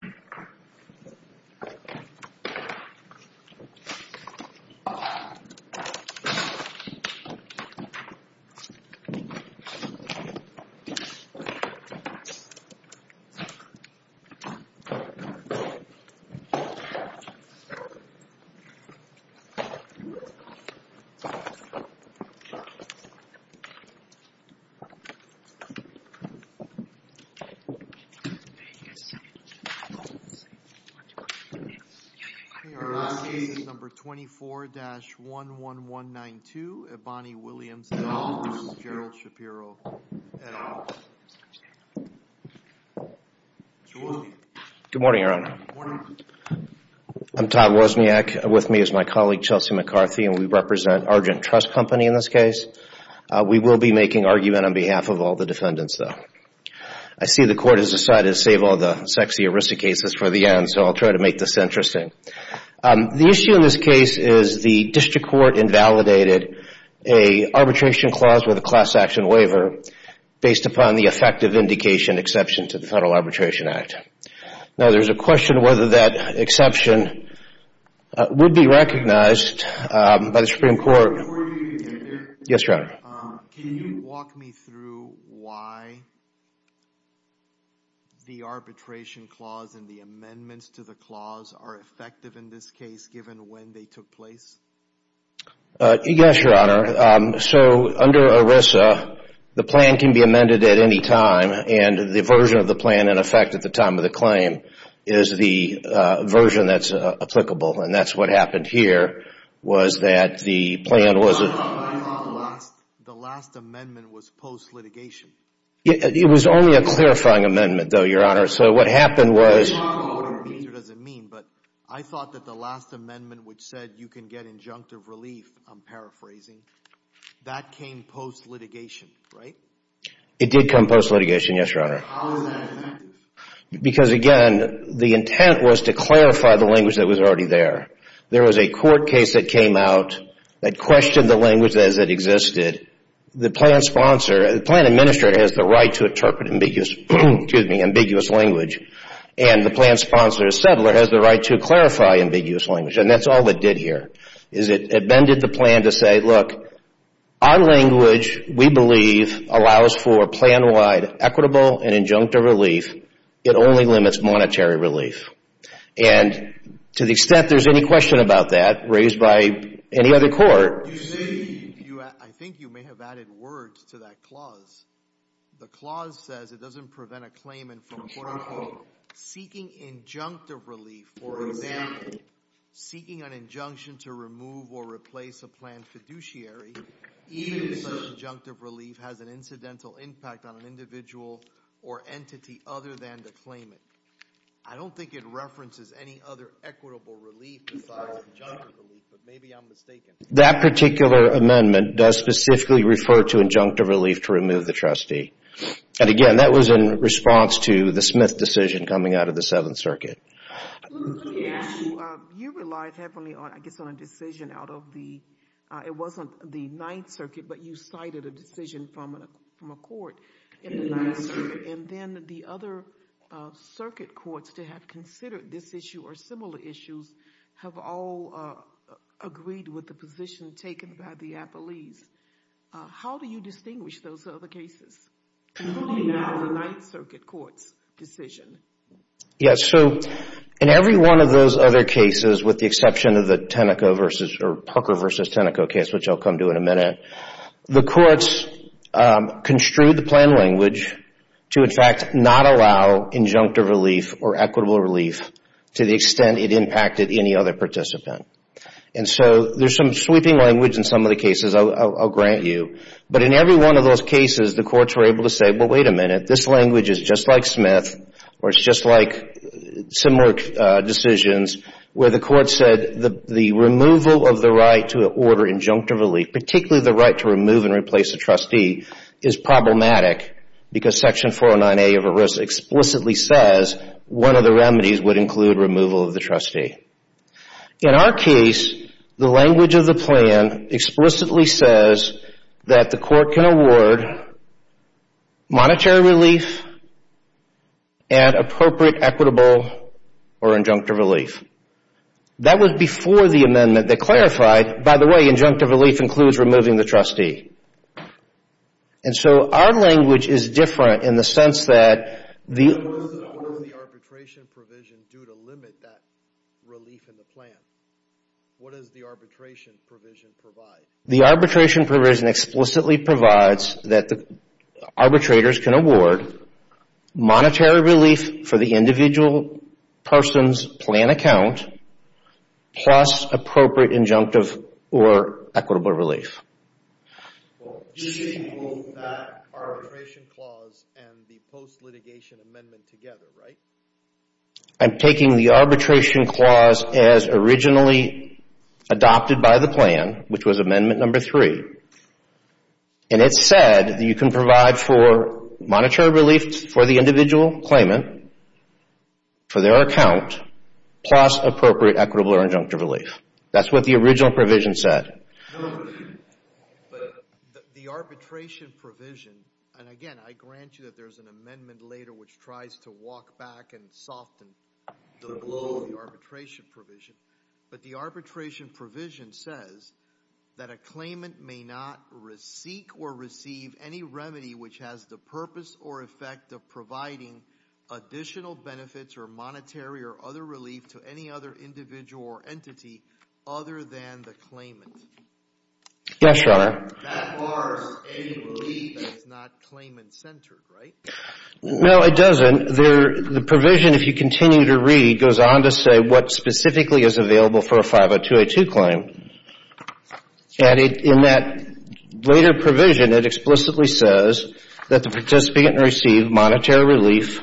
Here we go... That's pretty good. It's just nothing like the result of the The last year was run by a doctor from I'm Todd Wozniak with me as my colleague Chelsea McCarthy, and we represent Argent Trust Company in this case We will be making argument on behalf of all the defendants though I see the court has decided to save all the sexy arisa cases for the end, so I'll try to make this interesting the issue in this case is the district court invalidated a arbitration clause with a class-action waiver Based upon the effective indication exception to the Federal Arbitration Act Now there's a question whether that exception Would be recognized by the Supreme Court Yes, your honor The arbitration clause and the amendments to the clause are effective in this case given when they took place Yes, your honor so under Arisa The plan can be amended at any time and the version of the plan in effect at the time of the claim is the Version that's applicable, and that's what happened here was that the plan was It was only a clarifying amendment though your honor so what happened was I thought that the last amendment which said you can get injunctive relief. I'm paraphrasing That came post litigation, right it did come post litigation. Yes, your honor Because again the intent was to clarify the language that was already there There was a court case that came out that questioned the language as it existed The plan sponsor the plan administrator has the right to interpret ambiguous excuse me ambiguous language And the plan sponsor is settler has the right to clarify ambiguous language And that's all it did here is it amended the plan to say look our Language we believe allows for plan-wide equitable and injunctive relief it only limits monetary relief and To the extent there's any question about that raised by any other court The clause says it doesn't prevent a claimant from seeking injunctive relief For example, seeking an injunction to remove or replace a plan fiduciary Injunctive relief has an incidental impact on an individual or entity other than the claimant I don't think it references any other equitable relief That particular amendment does specifically refer to injunctive relief to remove the trustee And again that was in response to the Smith decision coming out of the Seventh Circuit Let me ask you, you relied heavily on I guess on a decision out of the it wasn't the Ninth Circuit But you cited a decision from a court in the Ninth Circuit And then the other Circuit courts to have considered this issue or similar issues have all Agreed with the position taken by the appellees How do you distinguish those other cases? Including now the Ninth Circuit Court's decision Yes, so in every one of those other cases with the exception of the Tenneco versus or Pucker versus Tenneco case Which I'll come to in a minute the courts construed the plan language To in fact not allow injunctive relief or equitable relief to the extent it impacted any other participant And so there's some sweeping language in some of the cases I'll grant you but in every one of those cases the courts were able to say well, wait a minute This language is just like Smith or it's just like similar decisions where the court said the the removal of the right to order injunctive relief particularly the right to remove and replace a trustee is Problematic because section 409a of a risk explicitly says one of the remedies would include removal of the trustee in our case the language of the plan Explicitly says that the court can award Monetary relief and appropriate equitable or injunctive relief that was before the amendment that clarified by the way injunctive relief includes removing the trustee and so our language is different in the sense that the The arbitration provision explicitly provides that the arbitrators can award monetary relief for the individual person's plan account plus appropriate injunctive or equitable relief I'm taking the arbitration clause as originally Adopted by the plan which was amendment number three and It said you can provide for monetary relief for the individual claimant for their account Plus appropriate equitable or injunctive relief. That's what the original provision said The arbitration provision and again, I grant you that there's an amendment later which tries to walk back and soften the glow of the arbitration provision but the arbitration provision says That a claimant may not re-seek or receive any remedy which has the purpose or effect of providing Additional benefits or monetary or other relief to any other individual or entity other than the claimant Yes, your honor That bars any relief that is not claimant-centered, right? No, it doesn't. The provision, if you continue to read, goes on to say what specifically is available for a 502a2 claim And in that later provision, it explicitly says that the participant received monetary relief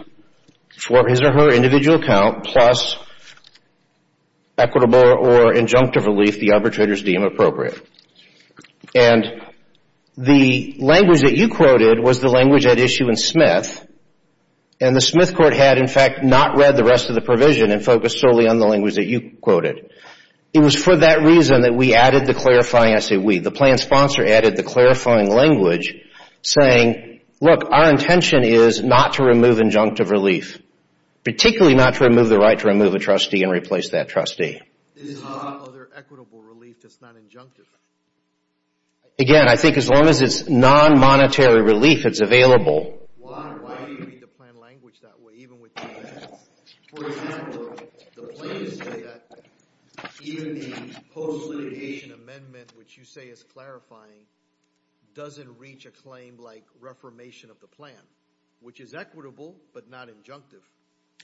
for his or her individual account plus Equitable or injunctive relief the arbitrators deem appropriate And the language that you quoted was the language at issue in Smith and The Smith court had in fact not read the rest of the provision and focused solely on the language that you quoted It was for that reason that we added the clarifying, I say we, the plan sponsor added the clarifying language Saying look our intention is not to remove injunctive relief Particularly not to remove the right to remove a trustee and replace that trustee Again, I think as long as it's non-monetary relief, it's available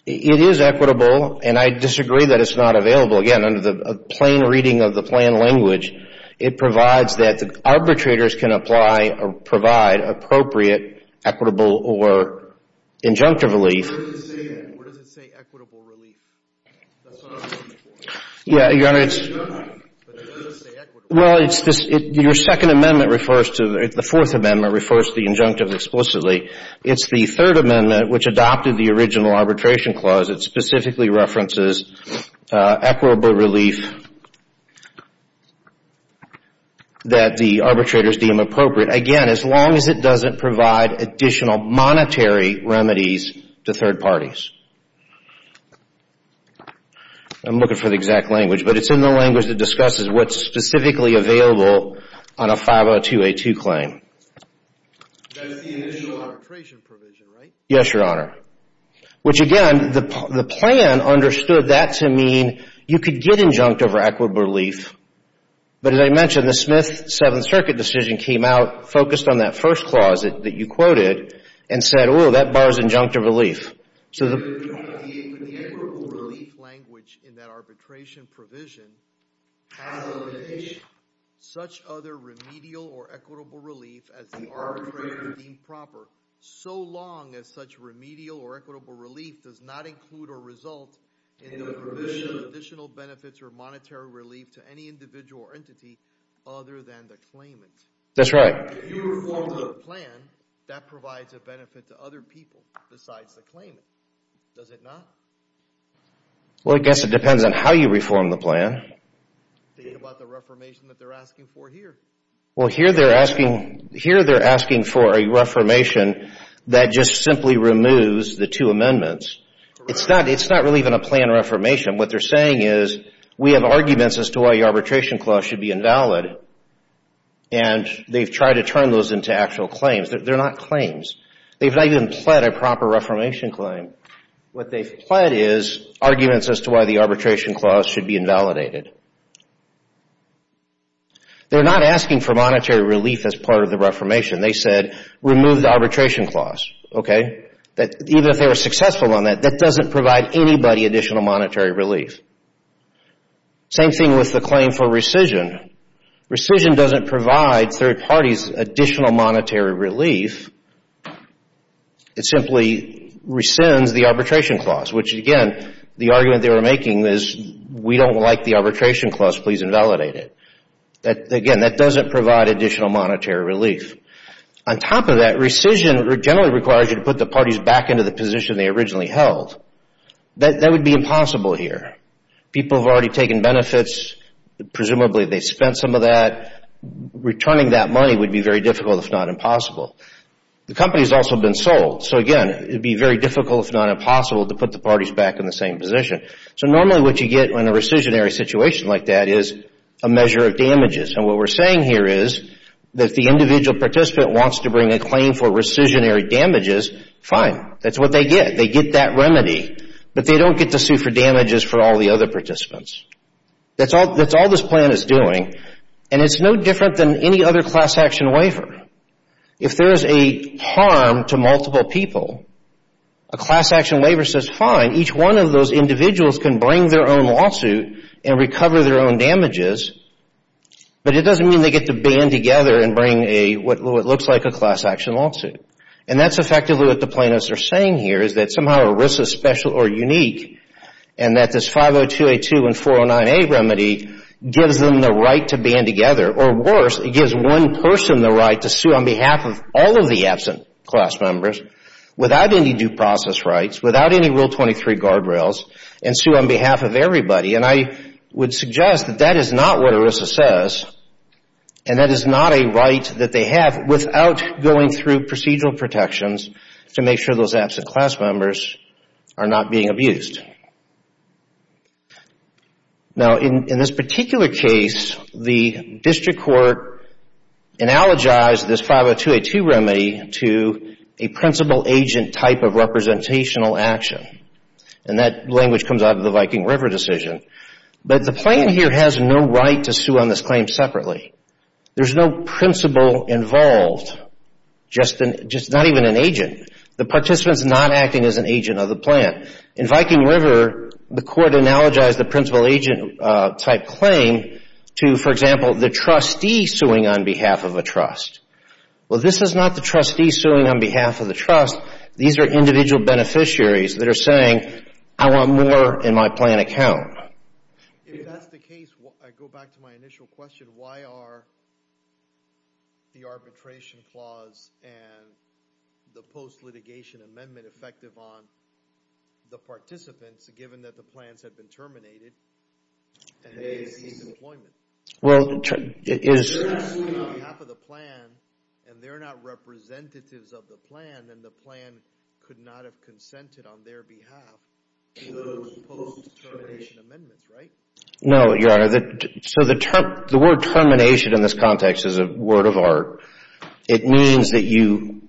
It is equitable and I disagree that it's not available again under the plain reading of the plan language It provides that the arbitrators can apply or provide appropriate equitable or injunctive relief Yeah, your honor, it's Well, it's just your second amendment refers to the fourth amendment refers to the injunctive explicitly It's the third amendment which adopted the original arbitration clause. It specifically references equitable relief That the arbitrators deem appropriate again as long as it doesn't provide additional monetary remedies to third parties I'm looking for the exact language, but it's in the language that discusses what's specifically available on a 50282 claim Yes, your honor Which again the plan understood that to mean you could get injunct over equitable relief But as I mentioned the Smith Seventh Circuit decision came out focused on that first clause that you quoted and said Oh that bars injunctive relief. So the Such other remedial or equitable relief as the improper so long as such remedial or equitable relief does not include or result in Additional benefits or monetary relief to any individual or entity other than the claimant. That's right That provides a benefit to other people besides the claimant does it not Well, I guess it depends on how you reform the plan Well here they're asking here they're asking for a reformation that just simply removes the two amendments It's not it's not really even a plan reformation what they're saying is we have arguments as to why the arbitration clause should be invalid and They've tried to turn those into actual claims. They're not claims. They've not even pled a proper reformation claim What they've pled is arguments as to why the arbitration clause should be invalidated They're not asking for monetary relief as part of the reformation they said remove the arbitration clause Okay, that even if they were successful on that that doesn't provide anybody additional monetary relief Same thing with the claim for rescission rescission doesn't provide third parties additional monetary relief It simply Rescinds the arbitration clause which again the argument they were making is we don't like the arbitration clause. Please invalidate it That again that doesn't provide additional monetary relief On top of that rescission generally requires you to put the parties back into the position. They originally held That that would be impossible here people have already taken benefits Presumably they spent some of that Returning that money would be very difficult if not impossible The company has also been sold so again It'd be very difficult if not impossible to put the parties back in the same position So normally what you get when a rescission area situation like that is a measure of damages And what we're saying here is that the individual participant wants to bring a claim for rescission area damages fine That's what they get they get that remedy, but they don't get to sue for damages for all the other participants That's all that's all this plan is doing and it's no different than any other class-action waiver if there is a harm to multiple people a Class-action waiver says fine each one of those individuals can bring their own lawsuit and recover their own damages But it doesn't mean they get to band together and bring a what looks like a class-action lawsuit and that's effectively what the plaintiffs are saying here is that somehow a risk is special or unique and That this 502 a 2 and 409 a remedy gives them the right to band together or worse It gives one person the right to sue on behalf of all of the absent class members without any due process rights without any rule 23 guardrails and sue on behalf of everybody and I would suggest that that is not what Arisa says and That is not a right that they have without going through procedural protections to make sure those absent class members Are not being abused Now in this particular case the district court analogized this 502 a 2 remedy to a principal agent type of Representational action and that language comes out of the Viking River decision But the plan here has no right to sue on this claim separately. There's no principal involved Just in just not even an agent the participants not acting as an agent of the plan in Viking River The court analogized the principal agent type claim to for example the trustee suing on behalf of a trust Well, this is not the trustee suing on behalf of the trust These are individual beneficiaries that are saying I want more in my plan account Well And they're not representatives of the plan and the plan could not have consented on their behalf No, your honor that so the term the word termination in this context is a word of art it means that you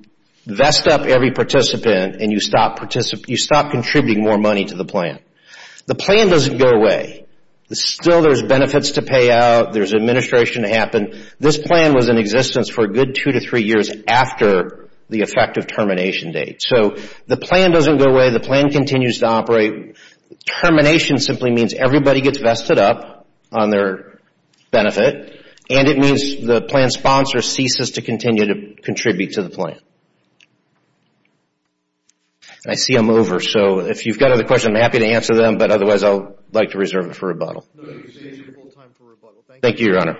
Vest up every participant and you stop participate you stop contributing more money to the plan. The plan doesn't go away Still there's benefits to pay out. There's administration to happen This plan was in existence for a good two to three years after the effective termination date So the plan doesn't go away the plan continues to operate Termination simply means everybody gets vested up on their Benefit and it means the plan sponsor ceases to continue to contribute to the plan. I Rebuttal Thank you, your honor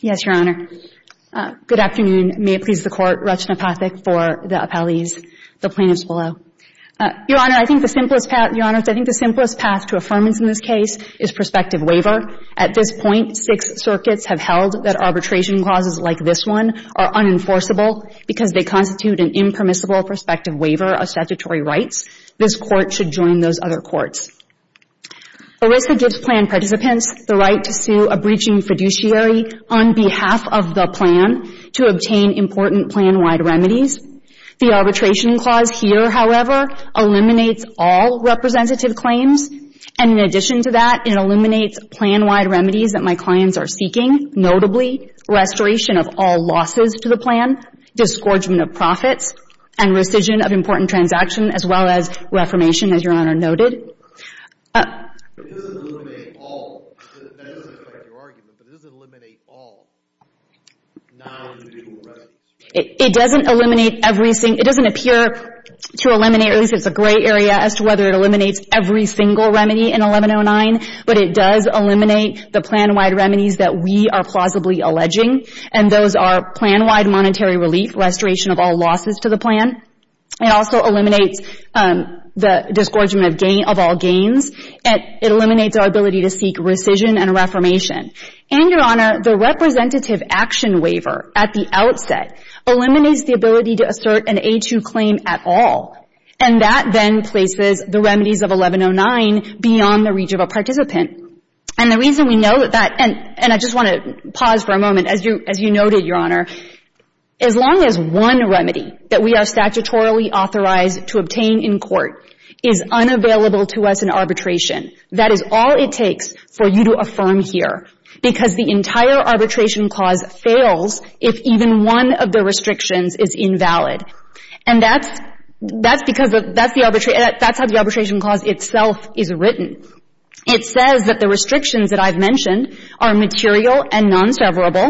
Yes, your honor Good afternoon. May it please the court retina pathak for the appellees the plaintiffs below Your honor. I think the simplest pat your honor I think the simplest path to affirmance in this case is prospective waiver at this point six circuits have held that arbitration clauses like this one Are unenforceable because they constitute an impermissible prospective waiver of statutory rights. This court should join those other courts Larissa gives plan participants the right to sue a breaching fiduciary on behalf of the plan to obtain important plan wide remedies the arbitration clause here, however Eliminates all representative claims and in addition to that it eliminates plan-wide remedies that my clients are seeking notably restoration of all losses to the plan disgorgement of profits and rescission of important transaction as well as Reformation as your honor noted It doesn't eliminate all It doesn't eliminate everything it doesn't appear to eliminate It's a gray area as to whether it eliminates every single remedy in 1109 But it does eliminate the plan-wide remedies that we are plausibly alleging and those are plan-wide Monetary relief restoration of all losses to the plan. It also eliminates The disgorgement of gain of all gains and it eliminates our ability to seek rescission and a reformation and your honor the representative action waiver at the outset Eliminates the ability to assert an a2 claim at all and that then places the remedies of 1109 Beyond the reach of a participant and the reason we know that that and and I just want to pause for a moment as you as you noted your honor as Long as one remedy that we are statutorily authorized to obtain in court is Unavailable to us in arbitration that is all it takes for you to affirm here because the entire arbitration clause fails if even one of the restrictions is invalid and that's That's because of that's the arbitrate that's how the arbitration clause itself is written It says that the restrictions that I've mentioned are material and non severable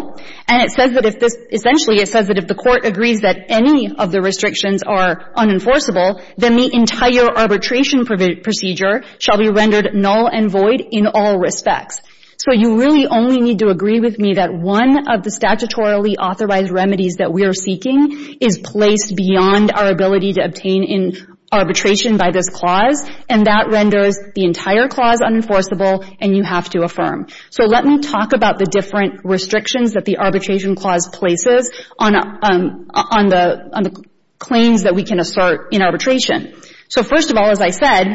And it says that if this essentially it says that if the court agrees that any of the restrictions are Unenforceable then the entire arbitration procedure shall be rendered null and void in all respects So you really only need to agree with me that one of the statutorily authorized remedies that we are seeking is placed beyond our ability to obtain in Arbitration by this clause and that renders the entire clause unenforceable and you have to affirm so let me talk about the different restrictions that the arbitration clause places on on the Claims that we can assert in arbitration. So first of all, as I said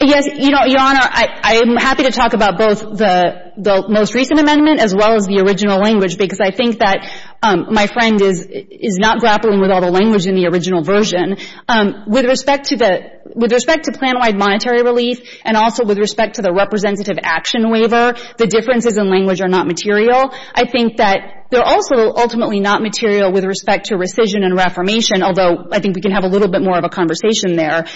Yes, you know your honor I am happy to talk about both the the most recent amendment as well as the original language because I think that My friend is is not grappling with all the language in the original version With respect to the with respect to plan wide monetary relief and also with respect to the representative action waiver The differences in language are not material I think that they're also ultimately not material with respect to rescission and reformation Although I think we can have a little bit more of a conversation there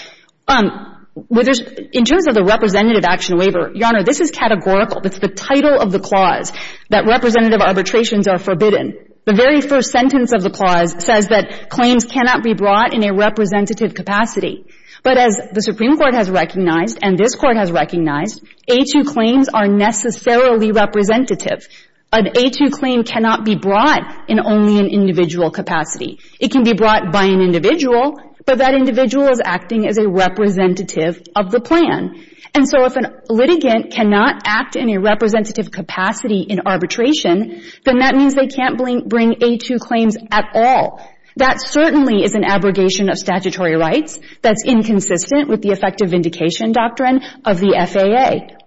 With us in terms of the representative action waiver. Your honor. This is categorical That's the title of the clause that representative arbitrations are forbidden The very first sentence of the clause says that claims cannot be brought in a representative capacity but as the Supreme Court has recognized and this court has recognized a to claims are necessarily Representative an a to claim cannot be brought in only an individual capacity It can be brought by an individual but that individual is acting as a representative of the plan And so if an litigant cannot act in a representative capacity in arbitration Then that means they can't blink bring a to claims at all. That certainly is an abrogation of statutory rights That's inconsistent with the effective vindication doctrine of the FAA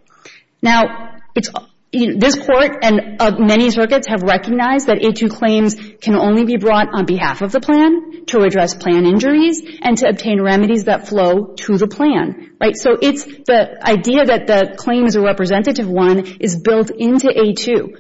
now it's This court and many circuits have recognized that a to claims Can only be brought on behalf of the plan to address plan injuries and to obtain remedies that flow to the plan, right? So it's the idea that the claims are representative one is built into a to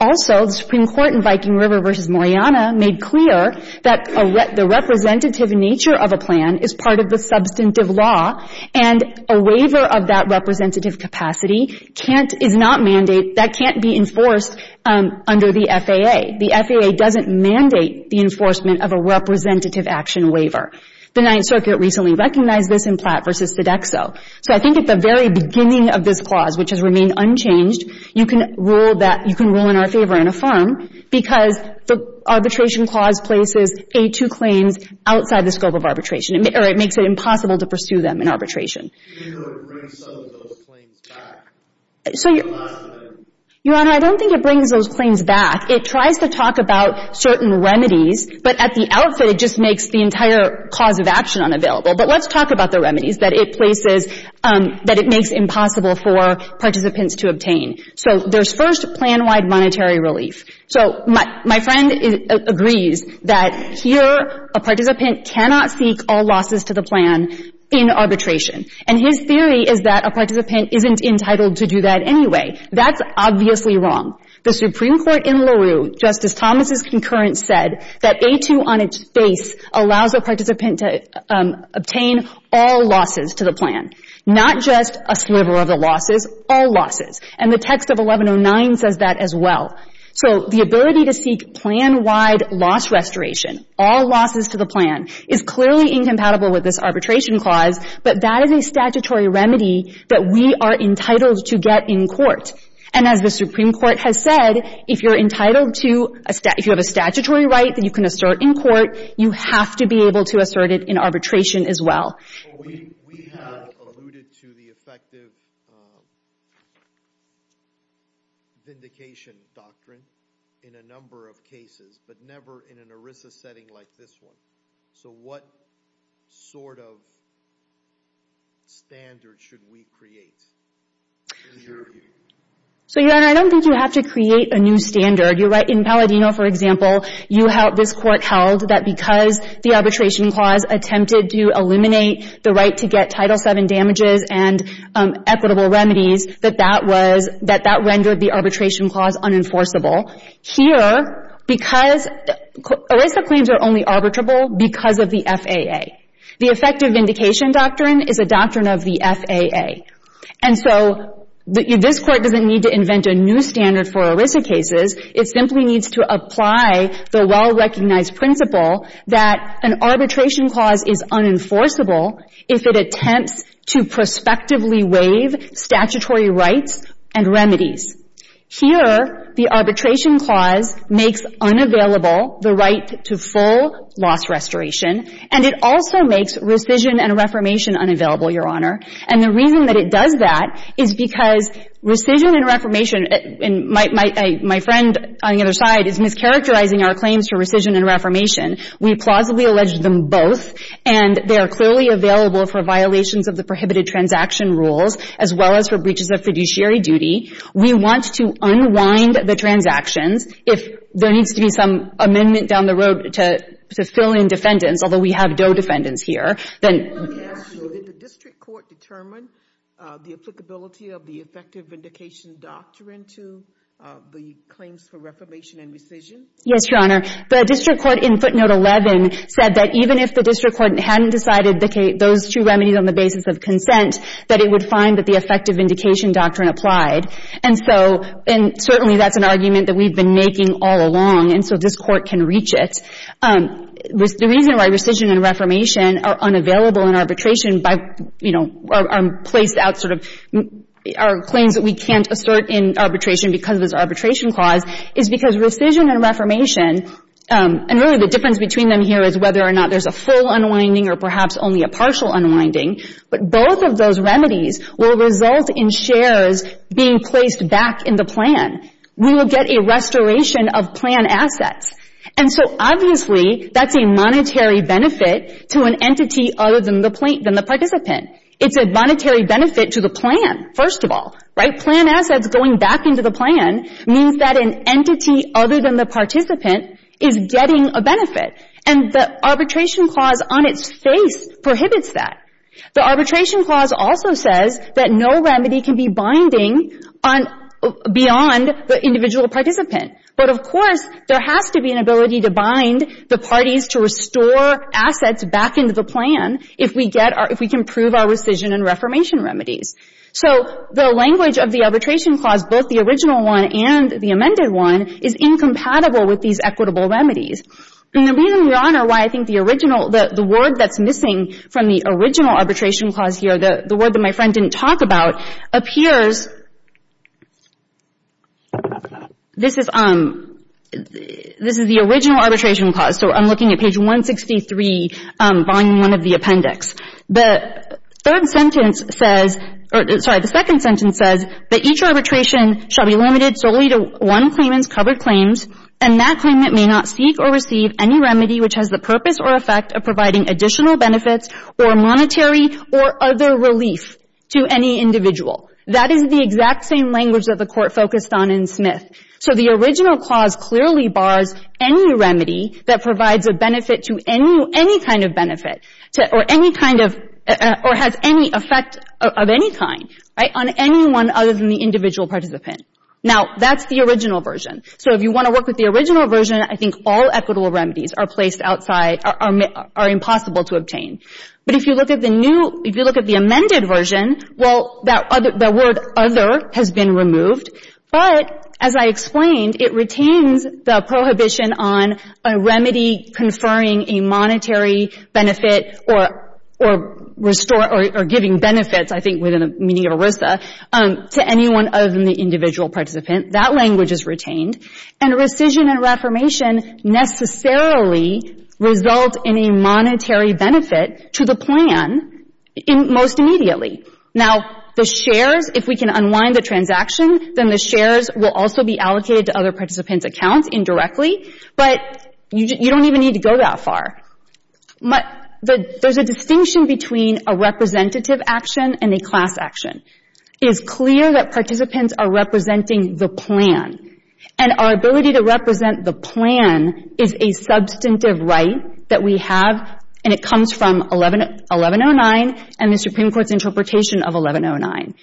Also the Supreme Court in Viking River versus Moriana made clear that a let the Representative nature of a plan is part of the substantive law and a waiver of that representative capacity Can't is not mandate that can't be enforced Under the FAA the FAA doesn't mandate the enforcement of a representative action waiver The Ninth Circuit recently recognized this in Platt versus Sodexo So I think at the very beginning of this clause which has remained unchanged you can rule that you can rule in our favor in a firm because the Arbitration clause places a to claims outside the scope of arbitration or it makes it impossible to pursue them in arbitration So you Your honor. I don't think it brings those claims back It tries to talk about certain remedies, but at the outfit it just makes the entire cause of action unavailable But let's talk about the remedies that it places That it makes impossible for participants to obtain. So there's first plan wide monetary relief So my friend agrees that here a participant cannot seek all losses to the plan in Arbitration and his theory is that a participant isn't entitled to do that Anyway, that's obviously wrong the Supreme Court in LaRue Justice Thomas's concurrence said that a to on its face allows a participant to Obtain all losses to the plan Not just a sliver of the losses all losses and the text of 1109 says that as well So the ability to seek plan wide loss restoration all losses to the plan is clearly incompatible with this arbitration clause But that is a statutory remedy that we are entitled to get in court And as the Supreme Court has said if you're entitled to a stat If you have a statutory right that you can assert in court, you have to be able to assert it in arbitration as well We have alluded to the effective Vindication doctrine in a number of cases but never in an ERISA setting like this one. So what sort of Standards should we create? So your honor, I don't think you have to create a new standard you're right in Palladino for example, you have this court held that because the arbitration clause attempted to eliminate the right to get title 7 damages and equitable remedies that that was that that rendered the arbitration clause unenforceable here because ERISA claims are only arbitrable because of the FAA the effective vindication doctrine is a doctrine of the FAA and so This court doesn't need to invent a new standard for ERISA cases It simply needs to apply the well-recognized principle that an arbitration clause is unenforceable if it attempts to prospectively waive statutory rights and remedies Here the arbitration clause makes unavailable the right to full loss restoration And it also makes rescission and reformation unavailable your honor And the reason that it does that is because rescission and reformation And my friend on the other side is mischaracterizing our claims for rescission and reformation We plausibly allege them both and they are clearly available for violations of the prohibited transaction rules as well as for breaches of fiduciary Duty, we want to unwind the transactions if there needs to be some amendment down the road to fill in defendants, although we have no defendants here then The applicability of the effective vindication doctrine to Yes, your honor the district court in footnote 11 said that even if the district court hadn't decided the Kate those two remedies on the Basis of consent that it would find that the effective vindication doctrine applied And so and certainly that's an argument that we've been making all along and so this court can reach it The reason why rescission and reformation are unavailable in arbitration by you know I'm placed out sort of Our claims that we can't assert in arbitration because this arbitration clause is because rescission and reformation And really the difference between them here is whether or not there's a full unwinding or perhaps only a partial unwinding But both of those remedies will result in shares being placed back in the plan We will get a restoration of plan assets And so obviously that's a monetary benefit to an entity other than the plate than the participant It's a monetary benefit to the plan first of all right plan assets going back into the plan means that an entity other than the Participant is getting a benefit and the arbitration clause on its face Prohibits that the arbitration clause also says that no remedy can be binding on Beyond the individual participant But of course there has to be an ability to bind the parties to restore Assets back into the plan if we get our if we can prove our rescission and reformation remedies So the language of the arbitration clause both the original one and the amended one is incompatible with these equitable remedies And the reason we honor why I think the original that the word that's missing from the original arbitration clause here the the word that my friend didn't talk about Appears This is um This is the original arbitration clause so I'm looking at page 163 buying one of the appendix the Third sentence says or sorry the second sentence says that each arbitration Shall be limited solely to one claimants covered claims and that claimant may not seek or receive any remedy Which has the purpose or effect of providing additional benefits or monetary or other relief to any individual? That is the exact same language that the court focused on in Smith So the original clause clearly bars any remedy that provides a benefit to any any kind of benefit Or any kind of or has any effect of any kind right on anyone other than the individual participant now That's the original version so if you want to work with the original version I think all equitable remedies are placed outside or are impossible to obtain But if you look at the new if you look at the amended version well that other the word other has been removed But as I explained it retains the prohibition on a remedy conferring a monetary benefit or or Restore or giving benefits. I think within a media Risa To anyone other than the individual participant that language is retained and a rescission and reformation necessarily Results in a monetary benefit to the plan In most immediately now the shares if we can unwind the transaction Then the shares will also be allocated to other participants accounts indirectly, but you don't even need to go that far But the there's a distinction between a representative action and a class action it's clear that participants are representing the plan and our ability to represent the plan is a Substantive right that we have and it comes from 11 1109 and the Supreme Court's interpretation of 1109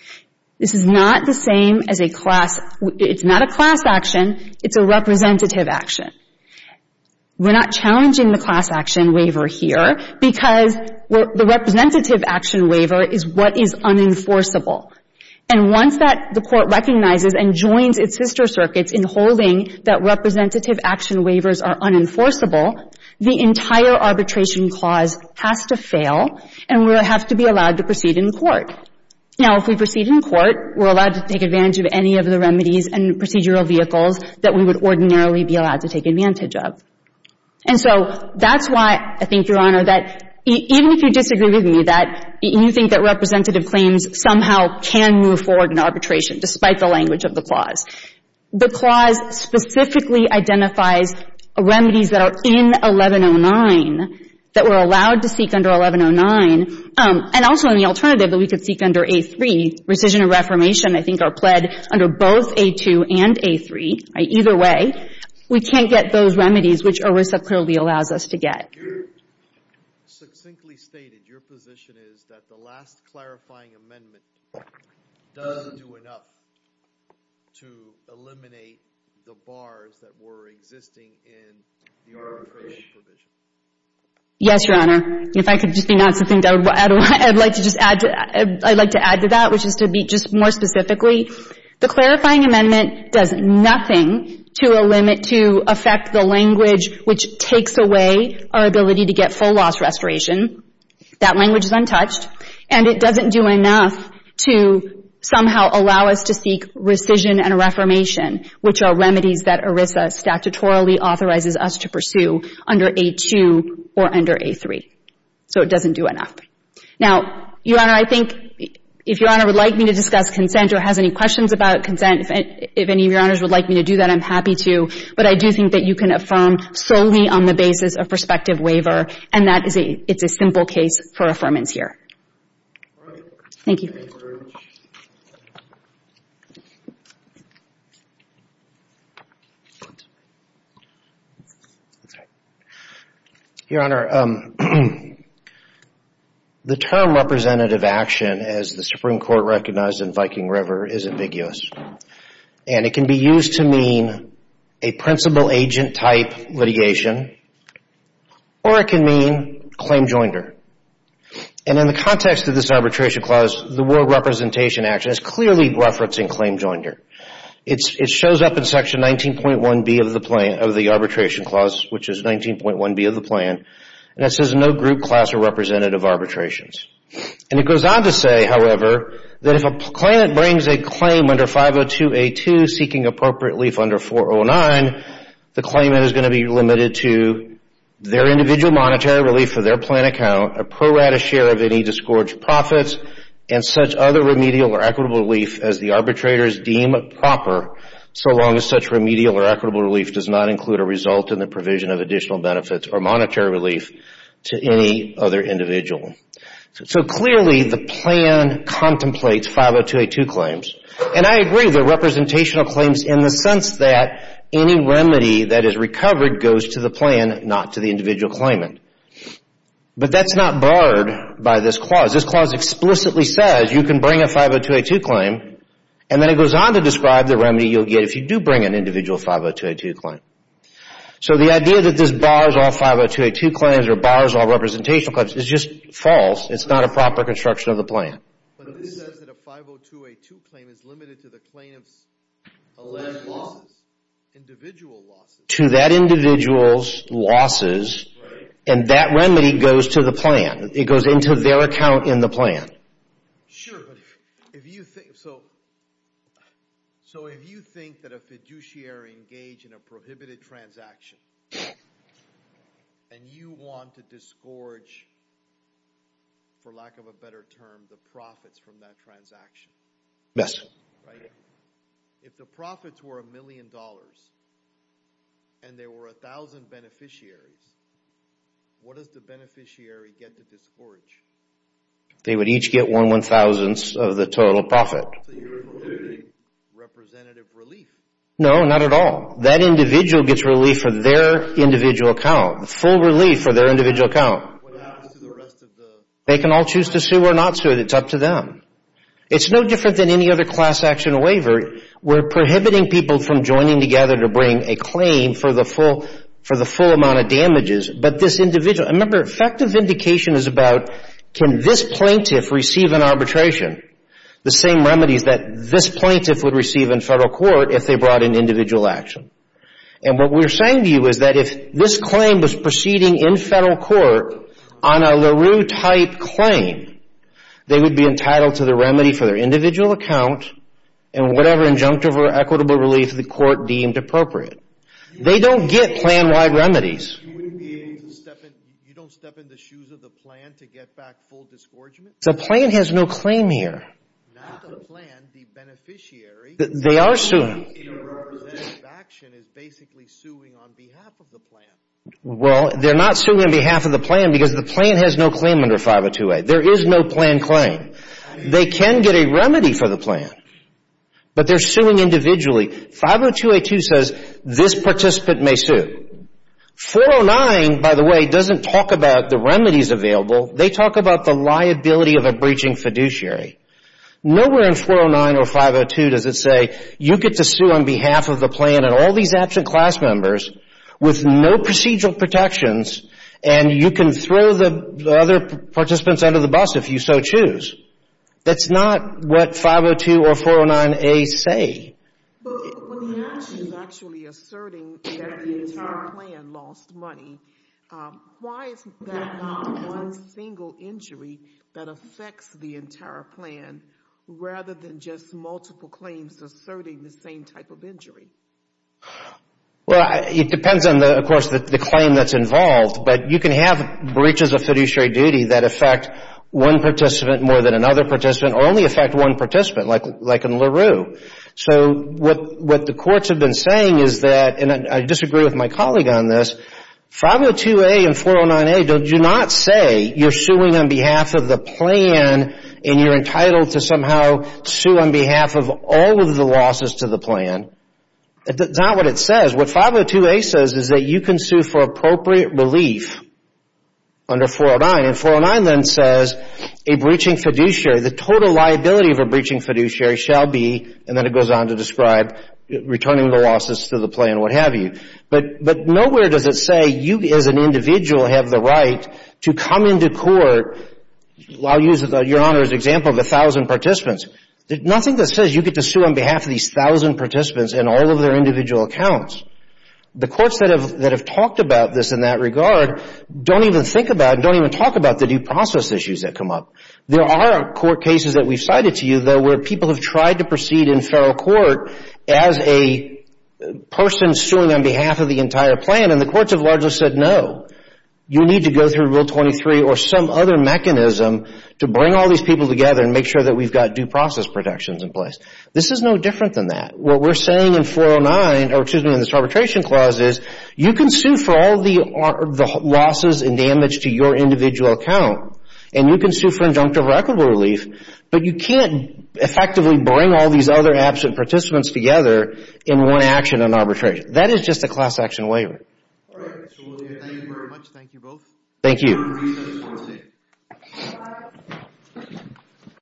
This is not the same as a class. It's not a class action. It's a representative action we're not challenging the class action waiver here because The representative action waiver is what is unenforceable and Once that the court recognizes and joins its sister circuits in holding that representative action waivers are unenforceable The entire arbitration clause has to fail and we have to be allowed to proceed in court now if we proceed in court we're allowed to take advantage of any of the remedies and procedural vehicles that we would ordinarily be allowed to take advantage of and Even if you disagree with me that you think that representative claims somehow can move forward in arbitration despite the language of the clause the clause specifically identifies Remedies that are in 1109 that we're allowed to seek under 1109 And also in the alternative that we could seek under a three rescission of reformation I think are pled under both a two and a three either way We can't get those remedies which are receptive allows us to get Position is that the last clarifying amendment Yes, your honor if I could just be not something that I'd like to just add I'd like to add to that which is to Be just more specifically the clarifying amendment does nothing to a limit to affect the language Which takes away our ability to get full loss restoration? That language is untouched and it doesn't do enough to Somehow allow us to seek rescission and a reformation which are remedies that ERISA Statutorily authorizes us to pursue under a two or under a three so it doesn't do enough now Your honor I think if your honor would like me to discuss consent or has any questions about consent If any of your honors would like me to do that I'm happy to but I do think that you can affirm Solely on the basis of prospective waiver, and that is a it's a simple case for affirmance here. Thank you Your honor The term representative action as the Supreme Court recognized in Viking River is ambiguous and it can be used to mean a Principal agent type litigation or it can mean claim joinder and In the context of this arbitration clause the world representation action is clearly referencing claim joinder It's it shows up in section 19.1 B of the plane of the arbitration clause Which is 19.1 B of the plan and it says no group class or representative arbitrations And it goes on to say however That if a claimant brings a claim under 502 a to seeking appropriate relief under 409 the claimant is going to be limited to their individual monetary relief for their plan account a pro-rata share of any disgorged profits and Such other remedial or equitable relief as the arbitrators deem proper So long as such remedial or equitable relief does not include a result in the provision of additional benefits or monetary relief to any other individual So clearly the plan contemplates 502 a to claims and I agree the Representational claims in the sense that any remedy that is recovered goes to the plan not to the individual claimant but that's not barred by this clause this clause explicitly says you can bring a 502 a to claim and Then it goes on to describe the remedy you'll get if you do bring an individual 502 a to claim So the idea that this bars all 502 a to claims or bars all representation cuts is just false It's not a proper construction of the plan To that individuals losses and that remedy goes to the plan it goes into their account in the plan Transaction And you want to disgorge? For lack of a better term the profits from that transaction. Yes if the profits were a million dollars and There were a thousand beneficiaries What does the beneficiary get to discourage? They would each get one one thousandths of the total profit No Not at all that individual gets relief for their individual account full relief for their individual account They can all choose to sue or not sue it's up to them It's no different than any other class action waiver We're prohibiting people from joining together to bring a claim for the full for the full amount of damages But this individual remember effective vindication is about can this plaintiff receive an arbitration? The same remedies that this plaintiff would receive in federal court if they brought in individual action And what we're saying to you is that if this claim was proceeding in federal court on a LaRue type claim They would be entitled to the remedy for their individual account and whatever injunctive or equitable relief the court deemed appropriate They don't get plan-wide remedies You don't step in the shoes of the plan to get back full discouragement. The plan has no claim here They are suing Well, they're not suing on behalf of the plan because the plan has no claim under 502a there is no plan claim They can get a remedy for the plan But they're suing individually 502a2 says this participant may sue 409 by the way doesn't talk about the remedies available. They talk about the liability of a breaching fiduciary Nowhere in 409 or 502 does it say you get to sue on behalf of the plan and all these absent class members With no procedural protections and you can throw the other participants under the bus if you so choose That's not what 502 or 409 a say And lost money Why is that? Single injury that affects the entire plan rather than just multiple claims asserting the same type of injury Well, it depends on the of course that the claim that's involved But you can have breaches of fiduciary duty that affect One participant more than another participant or only affect one participant like like in LaRue So what what the courts have been saying is that and I disagree with my colleague on this 502a and 409 a don't you not say you're suing on behalf of the plan and you're entitled to somehow Sue on behalf of all of the losses to the plan That's not what it says. What 502a says is that you can sue for appropriate relief Under 409 and 409 then says a breaching fiduciary the total liability of a breaching fiduciary shall be And then it goes on to describe Returning the losses to the plan or what have you but but nowhere does it say you as an individual have the right? to come into court I'll use your honor's example of a thousand participants Nothing that says you get to sue on behalf of these thousand participants and all of their individual accounts The courts that have that have talked about this in that regard Don't even think about don't even talk about the due process issues that come up There are court cases that we've cited to you though where people have tried to proceed in feral court as a Person suing on behalf of the entire plan and the courts have largely said no You need to go through rule 23 or some other mechanism To bring all these people together and make sure that we've got due process protections in place This is no different than that what we're saying in 409 or excuse me in this arbitration clause is you can sue for all the Losses and damage to your individual account and you can sue for injunctive or equitable relief, but you can't Effectively bring all these other absent participants together in one action on arbitration. That is just a class-action waiver Thank you